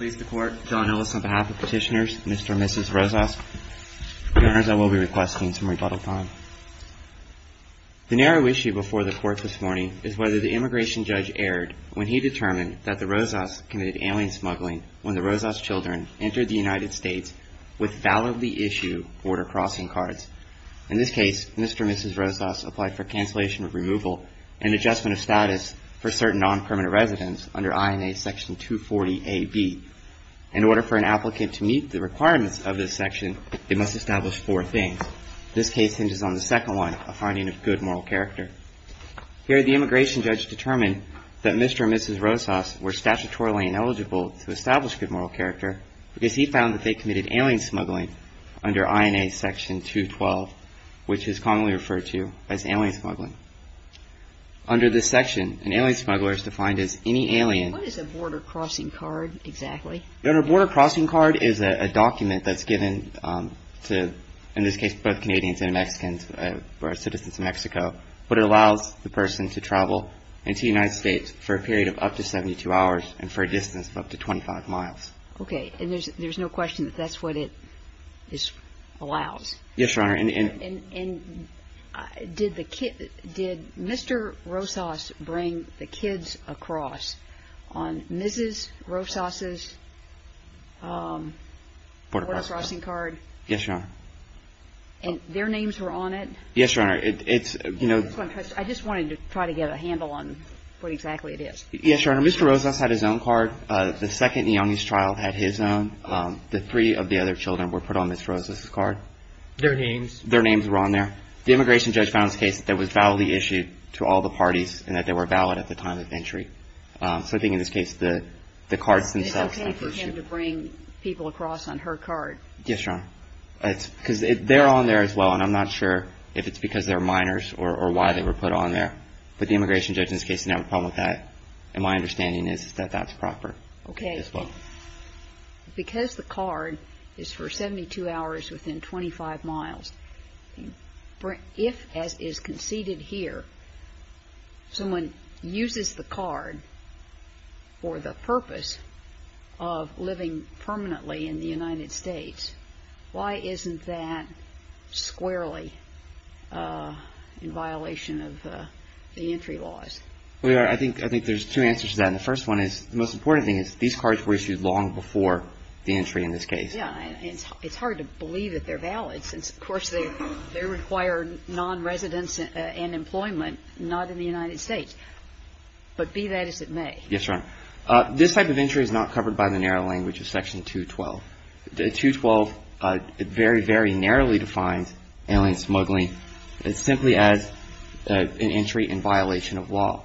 The narrow issue before the Court this morning is whether the immigration judge erred when he determined that the Rosas committed alien smuggling when the Rosas children entered the United States with validly issued border crossing cards. In this case, Mr. and Mrs. Rosas applied for cancellation of removal and adjustment of status for certain non-permanent residents under INA Section 240AB. In order for an applicant to meet the requirements of this section, they must establish four things. This case hinges on the second one, a finding of good moral character. Here, the immigration judge determined that Mr. and Mrs. Rosas were statutorily ineligible to establish good moral character because he found that they committed alien smuggling under INA Section 212, which is commonly referred to as alien smuggling. Under this section, an alien smuggler is defined as any alien What is a border crossing card exactly? Your Honor, a border crossing card is a document that's given to, in this case, both Canadians and Mexicans who are citizens of Mexico, but it allows the person to travel into the United States for a period of up to 72 hours and for a distance of up to 25 miles. Okay. And there's no question that that's what it allows? Yes, Your Honor. And did Mr. Rosas bring the kids across on Mrs. Rosas' border crossing card? Yes, Your Honor. And their names were on it? Yes, Your Honor. It's, you know I just wanted to try to get a handle on what exactly it is. Yes, Your Honor. Mr. Rosas had his own card. The second youngest child had his own. The three of the other children were put on Mrs. Rosas' card. Their names? Their names were on there. The immigration judge found this case that was validly issued to all the parties and that they were valid at the time of entry. So I think in this case, the cards themselves It's okay for him to bring people across on her card? Yes, Your Honor. It's because they're on there as well, and I'm not sure if it's because they're minors or why they were put on there. But the immigration judge in this case did not have a problem with that. And my understanding is that that's proper. Okay. Yes, Your Honor. Because the card is for 72 hours within 25 miles, if, as is conceded here, someone uses the card for the purpose of living permanently in the United States, why isn't that squarely in violation of the entry laws? Well, Your Honor, I think there's two answers to that. And the first one is the most important thing is these cards were issued long before the entry in this case. Yes. And it's hard to believe that they're valid since, of course, they require non-residents and employment not in the United States. But be that as it may. Yes, Your Honor. This type of entry is not covered by the narrow language of Section 212. The 212 very, very narrowly defines alien smuggling simply as an entry in violation of law.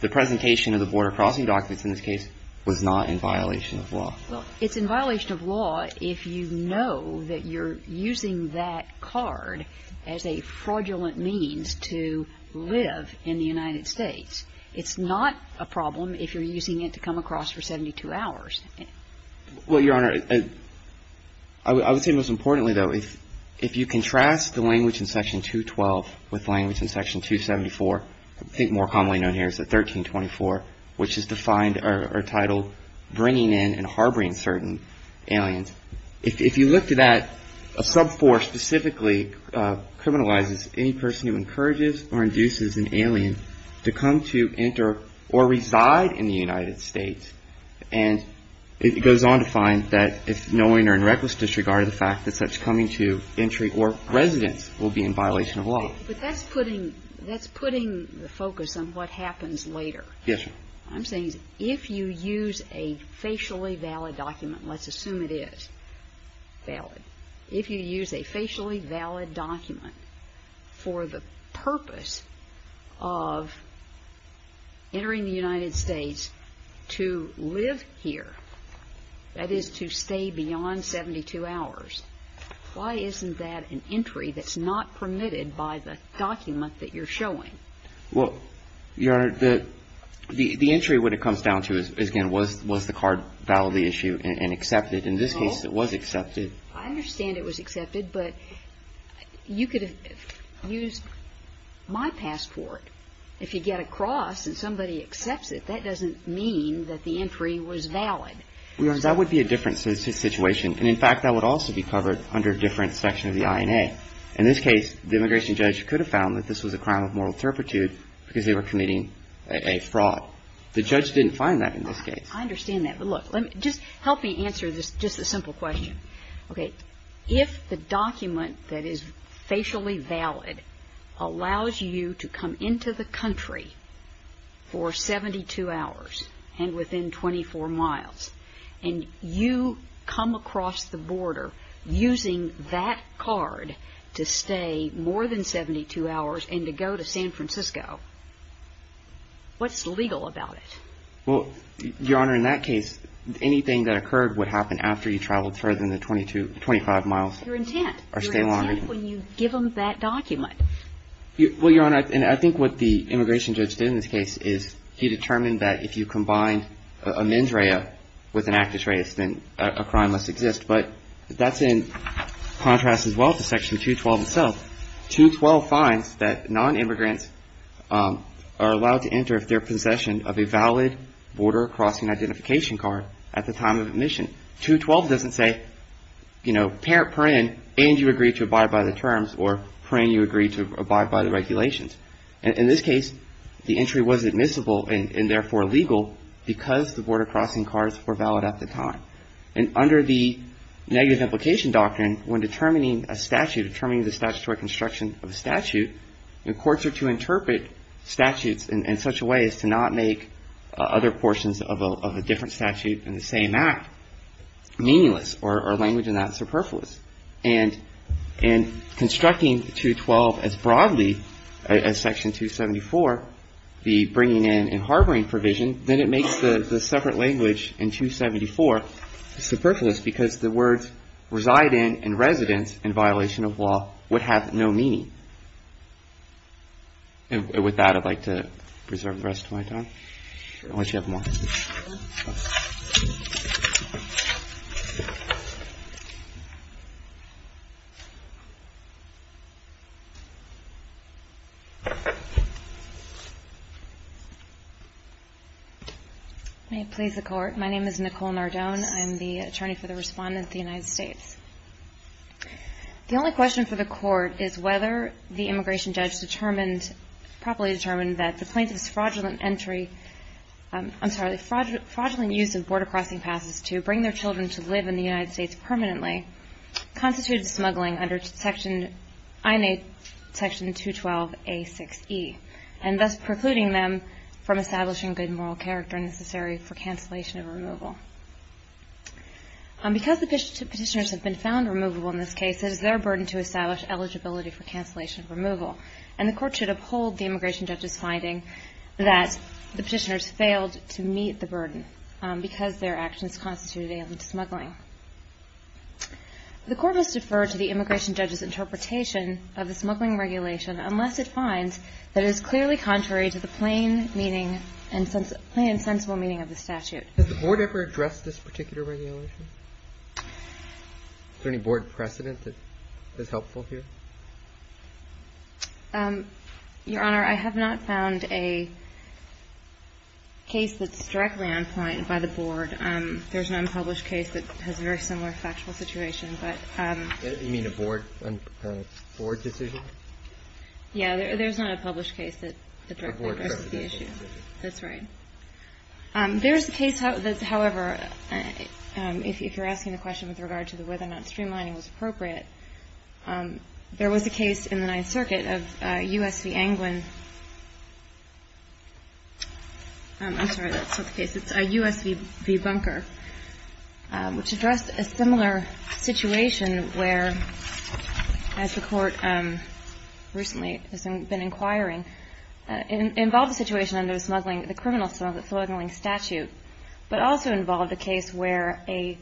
The presentation of the border crossing documents in this case was not in violation of law. Well, it's in violation of law if you know that you're using that card as a fraudulent means to live in the United States. It's not a problem if you're using it to come across for 72 hours. Well, Your Honor, I would say most importantly, though, if you contrast the language in Section 212 with language in Section 274, I think more commonly known here is the 1324, which is defined or titled bringing in and harboring certain aliens. If you look to that, a sub-four specifically criminalizes any person who encourages or induces an alien to come to enter or reside in the United States. And it goes on to find that if you're not knowing or in reckless disregard of the fact that such coming to entry or residence will be in violation of law. But that's putting the focus on what happens later. Yes, Your Honor. I'm saying if you use a facially valid document, let's assume it is valid, if you use a facially valid document for the purpose of entering the United States to live here, that is to stay beyond 72 hours. Why isn't that an entry that's not permitted by the document that you're showing? Well, Your Honor, the entry, what it comes down to is, again, was the card valid, the issue, and accepted? In this case, it was accepted. I understand it was accepted, but you could have used my passport. If you get across and somebody accepts it, that doesn't mean that the entry was valid. Your Honor, that would be a different situation. And in fact, that would also be covered under a different section of the INA. In this case, the immigration judge could have found that this was a crime of moral turpitude because they were committing a fraud. The judge didn't find that in this case. I understand that. But look, just help me answer this, just a simple question. Okay. If the document that is facially valid allows you to come into the country for 72 hours and within 24 miles, and you come across the border using that card to stay more than 72 hours and to go to San Francisco, what's legal about it? Well, Your Honor, in that case, anything that occurred would happen after you traveled further than the 25 miles. Your intent. Or stay longer. Your intent when you give them that document. Well, Your Honor, and I think what the immigration judge did in this case is he determined that if you combine a mens rea with an actus reus, then a crime must exist. But that's in contrast as well to Section 212 itself. 212 finds that nonimmigrants are allowed to enter if they're in possession of a valid border crossing identification card at the time of admission. And 212 doesn't say, you know, parent, paren, and you agree to abide by the terms, or paren, you agree to abide by the regulations. In this case, the entry was admissible and therefore legal because the border crossing cards were valid at the time. And under the negative implication doctrine, when determining a statute, determining the statutory construction of a statute, when courts are to interpret statutes in such a way as to not make other portions of a different statute in the same act meaningless or language in that superfluous. And constructing 212 as broadly as Section 274, the bringing in and harboring provision, then it makes the separate language in 274 superfluous because the words reside in and residence in violation of law would have no meaning. And with that, I'd like to reserve the rest of my time. Unless you have more. May it please the Court. My name is Nicole Nardone. I'm the attorney for the Respondent of the United States. The only question for the Court is whether the immigration judge determined, properly determined that the plaintiff's fraudulent entry, I'm sorry, the fraudulent use of border crossing passes to bring their children to live in the United States permanently constituted smuggling under Section, INA Section 212A6E, and thus precluding them from establishing good moral character necessary for cancellation of removal. Because the Petitioners have been found removable in this case, it is their burden to establish eligibility for cancellation of removal. And the Court should uphold the immigration judge's finding that the Petitioners failed to meet the burden because their actions constituted alien to smuggling. The Court must defer to the immigration judge's interpretation of the smuggling regulation unless it finds that it is clearly contrary to the plain meaning and sensible meaning of the statute. Has the Board ever addressed this particular regulation? Is there any Board precedent that is helpful here? Your Honor, I have not found a case that's directly on point by the Board. There's an unpublished case that has a very similar factual situation, but – You mean a Board decision? Yeah. There's not a published case that directly addresses the issue. That's right. There is a case, however, if you're asking the question with regard to whether or not streamlining was appropriate, there was a case in the Ninth Circuit of U.S. v. Anglin. I'm sorry, that's not the case. It's U.S. v. Bunker, which addressed a similar situation where, as the Court recently has been inquiring, involved a situation under the criminal smuggling statute, but also involved a case where an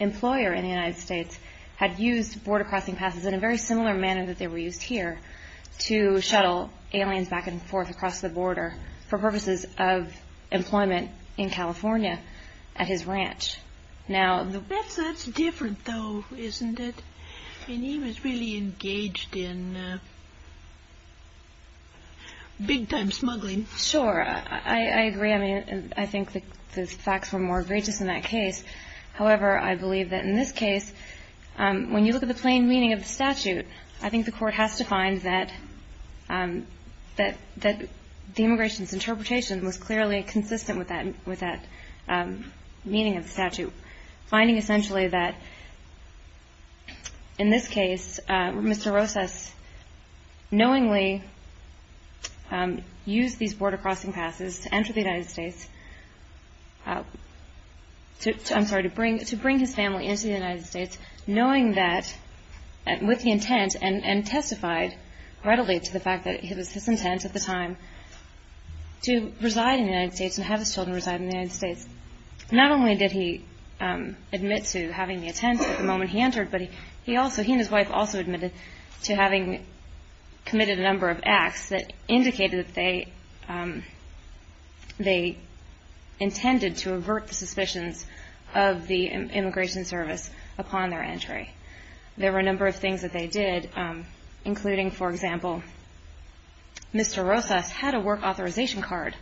employer in the United States had used border crossing passes in a very similar manner that they were used here to shuttle aliens back and forth across the border for purposes of employment in California at his ranch. That's different, though, isn't it? And he was really engaged in big-time smuggling. Sure. I agree. I mean, I think the facts were more egregious in that case. However, I believe that in this case, when you look at the plain meaning of the statute, I think the Court has to find that the immigration's interpretation was clearly consistent with that meaning of the statute, finding essentially that, in this case, Mr. Rosas knowingly used these border crossing passes to enter the United States, I'm sorry, to bring his family into the United States, knowing that, with the intent and testified readily to the fact that it was his intent at the time to reside in the United States and have his children reside in the United States. Not only did he admit to having the intent at the moment he entered, but he and his wife also admitted to having committed a number of acts that indicated that they intended to avert the suspicions of the Immigration Service upon their entry. There were a number of things that they did, including, for example, Mr. Rosas had a work authorization card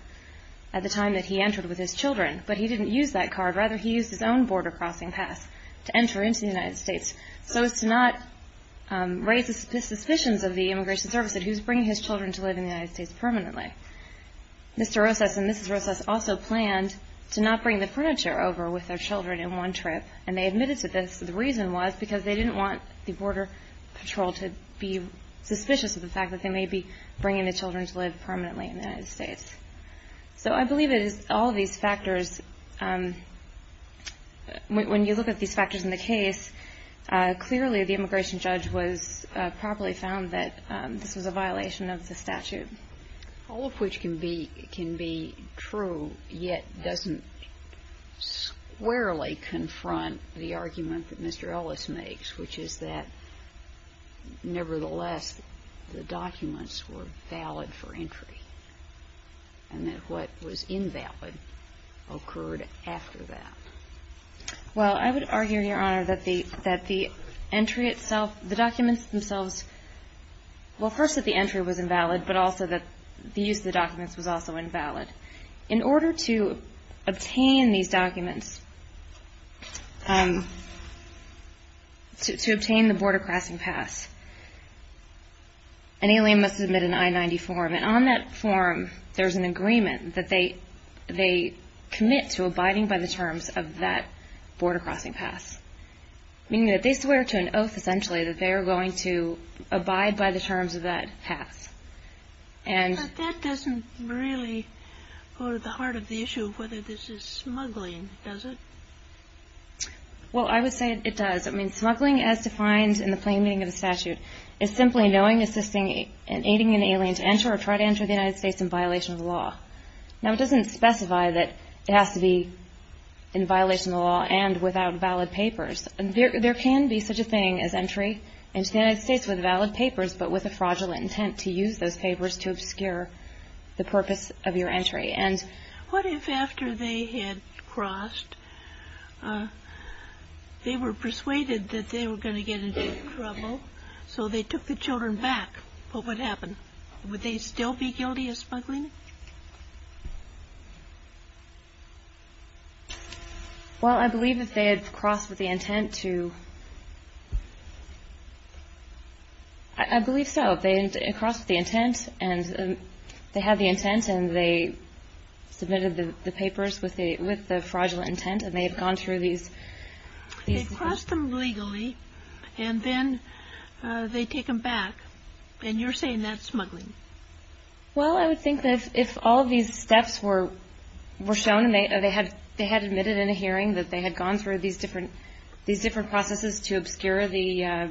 at the time that he entered with his children, but he didn't use that card. Rather, he used his own border crossing pass to enter into the United States so as to not raise the suspicions of the Immigration Service that he was bringing his children to live in the United States permanently. Mr. Rosas and Mrs. Rosas also planned to not bring the furniture over with their children in one trip, and they admitted to this. The reason was because they didn't want the Border Patrol to be suspicious of the fact that they may be bringing the children to live permanently in the United States. So I believe it is all of these factors. When you look at these factors in the case, clearly the immigration judge was properly found that this was a violation of the statute. All of which can be true, yet doesn't squarely confront the argument that Mr. Ellis makes, which is that, nevertheless, the documents were valid for entry, and that what was invalid occurred after that. Well, I would argue, Your Honor, that the entry itself, the documents themselves Well, first that the entry was invalid, but also that the use of the documents was also invalid. In order to obtain these documents, to obtain the border crossing pass, an alien must submit an I-90 form, and on that form there is an agreement that they commit to abiding by the terms of that border crossing pass. Meaning that they swear to an oath, essentially, that they are going to abide by the terms of that pass. But that doesn't really go to the heart of the issue of whether this is smuggling, does it? Well, I would say it does. Smuggling, as defined in the plain meaning of the statute, is simply knowing, assisting, and aiding an alien to enter or try to enter the United States in violation of the law. Now, it doesn't specify that it has to be in violation of the law and without valid papers. There can be such a thing as entry into the United States with valid papers, but with a fraudulent intent to use those papers to obscure the purpose of your entry. And what if after they had crossed, they were persuaded that they were going to get into trouble, so they took the children back? What would happen? Would they still be guilty of smuggling? Well, I believe if they had crossed with the intent to... I believe so. If they had crossed with the intent, and they had the intent, and they submitted the papers with the fraudulent intent, and they had gone through these... They crossed them legally, and then they take them back. And you're saying that's smuggling. Well, I would think that if all these steps were shown, and they had admitted in a hearing that they had gone through these different processes to obscure the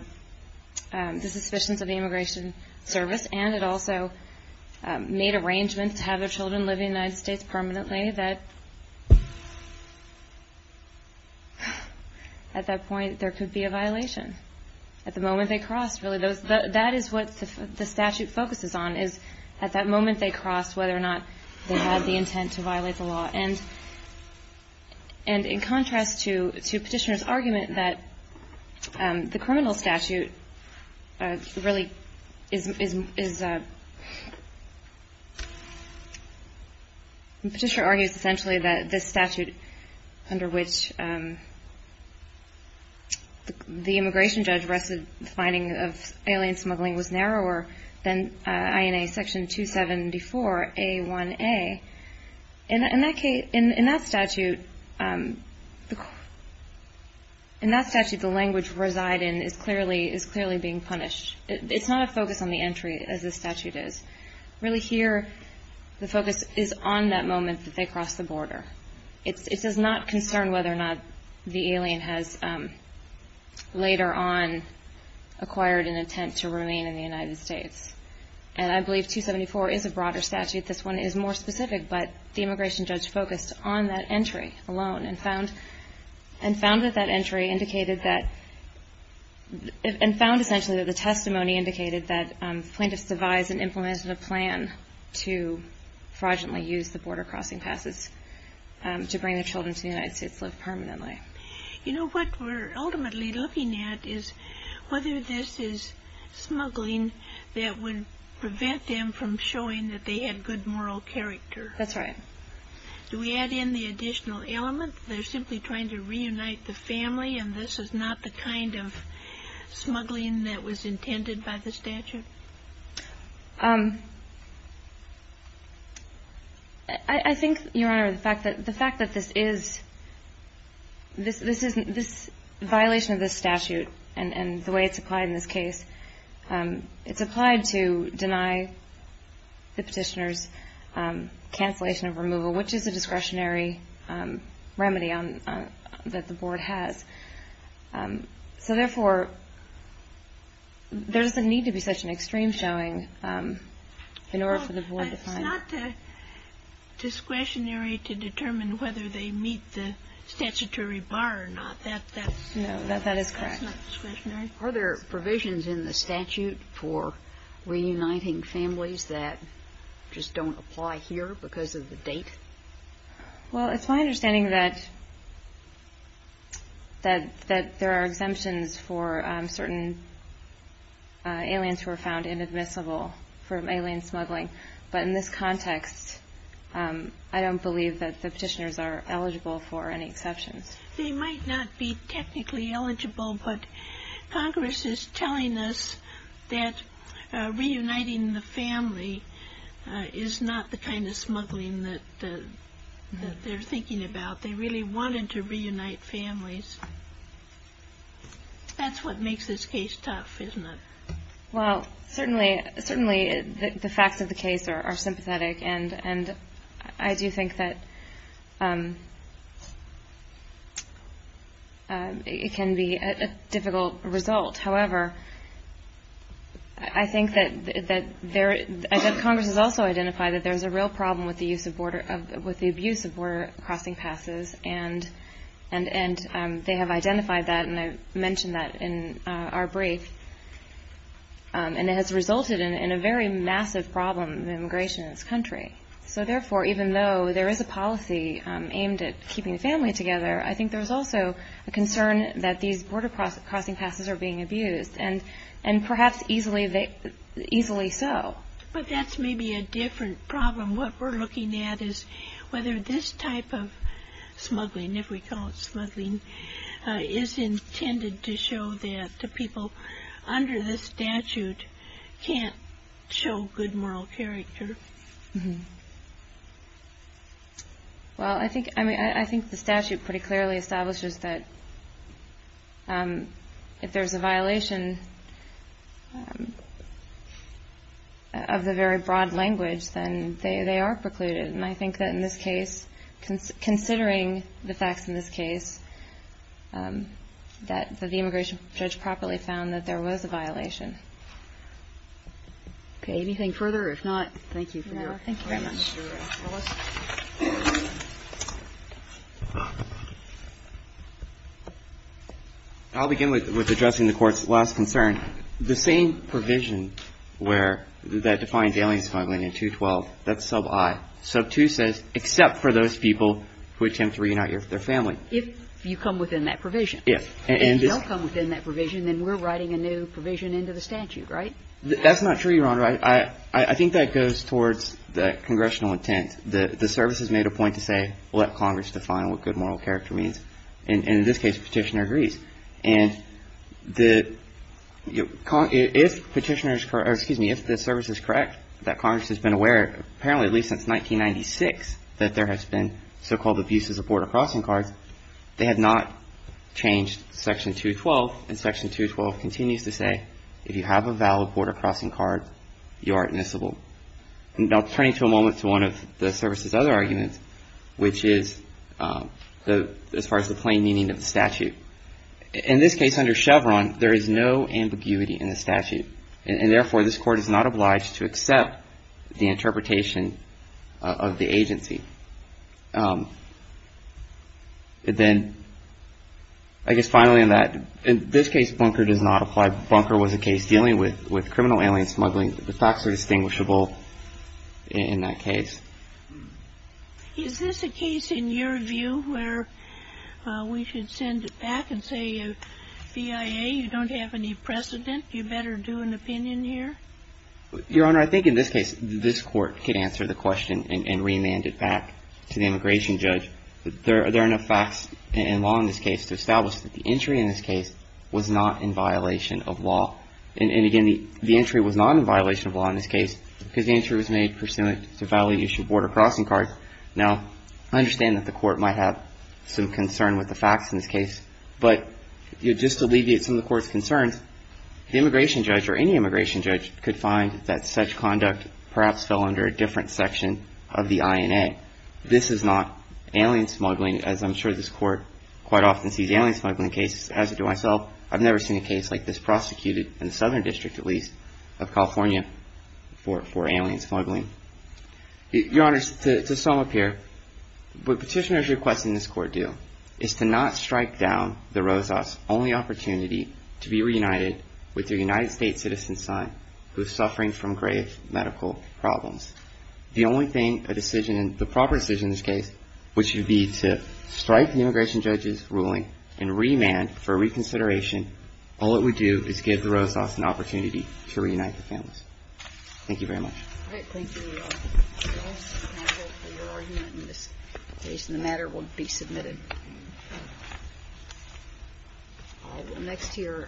suspicions of the Immigration Service, and it also made arrangements to have their children live in the United States permanently, that at that point, there could be a violation. At the moment they crossed, really, that is what the statute focuses on, is at that moment they crossed, whether or not they had the intent to violate the law. And in contrast to Petitioner's argument that the criminal statute really is... under which the immigration judge arrested the finding of alien smuggling was narrower than INA Section 274A1A. In that statute, the language residing is clearly being punished. It's not a focus on the entry, as the statute is. Really, here, the focus is on that moment that they crossed the border. It does not concern whether or not the alien has later on acquired an intent to remain in the United States. And I believe 274 is a broader statute. This one is more specific, but the immigration judge focused on that entry alone and found that that entry indicated that... to fraudulently use the border crossing passes to bring the children to the United States to live permanently. You know, what we're ultimately looking at is whether this is smuggling that would prevent them from showing that they had good moral character. That's right. Do we add in the additional element that they're simply trying to reunite the family and this is not the kind of smuggling that was intended by the statute? I think, Your Honor, the fact that this is... this violation of the statute and the way it's applied in this case, it's applied to deny the petitioner's cancellation of removal, which is a discretionary remedy that the board has. So, therefore, there doesn't need to be such an extreme showing in order for the board to find... Well, it's not discretionary to determine whether they meet the statutory bar or not. No, that is correct. That's not discretionary. Are there provisions in the statute for reuniting families that just don't apply here because of the date? Well, it's my understanding that there are exemptions for certain aliens who are found inadmissible from alien smuggling, but in this context, I don't believe that the petitioners are eligible for any exceptions. They might not be technically eligible, but Congress is telling us that reuniting the that they're thinking about. They really wanted to reunite families. That's what makes this case tough, isn't it? Well, certainly the facts of the case are sympathetic, and I do think that it can be a difficult result. However, I think that there... border crossing passes, and they have identified that, and I mentioned that in our brief, and it has resulted in a very massive problem in immigration in this country. So, therefore, even though there is a policy aimed at keeping the family together, I think there's also a concern that these border crossing passes are being abused, and perhaps easily so. But that's maybe a different problem. What we're looking at is whether this type of smuggling, if we call it smuggling, is intended to show that the people under this statute can't show good moral character. Well, I think the statute pretty clearly establishes that if there's a violation of the very broad language, then they are precluded. And I think that in this case, considering the facts in this case, that the immigration judge properly found that there was a violation. Okay. Anything further? If not, thank you. Thank you very much. I'll begin with addressing the Court's last concern. The same provision where that defines alien smuggling in 212, that's sub I. Sub 2 says except for those people who attempt to reunite their family. If you come within that provision. If. And if you don't come within that provision, then we're writing a new provision into the statute, right? That's not true, Your Honor. I think that goes towards the congressional intent. The service has made a point to say, well, let Congress define what good moral character means. And in this case, the Petitioner agrees. And if Petitioner's, or excuse me, if the service is correct, that Congress has been aware, apparently at least since 1996, that there has been so-called abuses of border crossing cards, they have not changed Section 212. And Section 212 continues to say, if you have a valid border crossing card, you are admissible. Now, turning to a moment to one of the service's other arguments, which is as far as the plain meaning of the statute. In this case, under Chevron, there is no ambiguity in the statute. And therefore, this Court is not obliged to accept the interpretation of the agency. Then, I guess finally on that, in this case, Bunker does not apply. Bunker was a case dealing with criminal alien smuggling. The facts are distinguishable in that case. Is this a case, in your view, where we should send it back and say, BIA, you don't have any precedent, you better do an opinion here? Your Honor, I think in this case, this Court could answer the question and remand it back to the immigration judge. There are enough facts and law in this case to establish that the entry in this case was not in violation of law. And again, the entry was not in violation of law in this case because the entry was made pursuant to violation of border crossing cards. Now, I understand that the Court might have some concern with the facts in this case. But just to alleviate some of the Court's concerns, the immigration judge or any immigration judge could find that such conduct perhaps fell under a different section of the INA. This is not alien smuggling, as I'm sure this Court quite often sees alien smuggling cases. As do I myself. I've never seen a case like this prosecuted in the Southern District, at least, of California for alien smuggling. Your Honor, to sum up here, what petitioners requesting this Court do is to not strike down the Rosas' only opportunity to be reunited with their United States citizen son who is suffering from grave medical problems. The only thing, a decision, the proper decision in this case, which would be to strike the immigration judge's ruling and remand for reconsideration, all it would do is give the case a chance to be reviewed. Thank you very much. All right. Thank you, Your Honor. Thank you, counsel, for your argument in this case. And the matter will be submitted. We'll go next to your attorney. Thank you.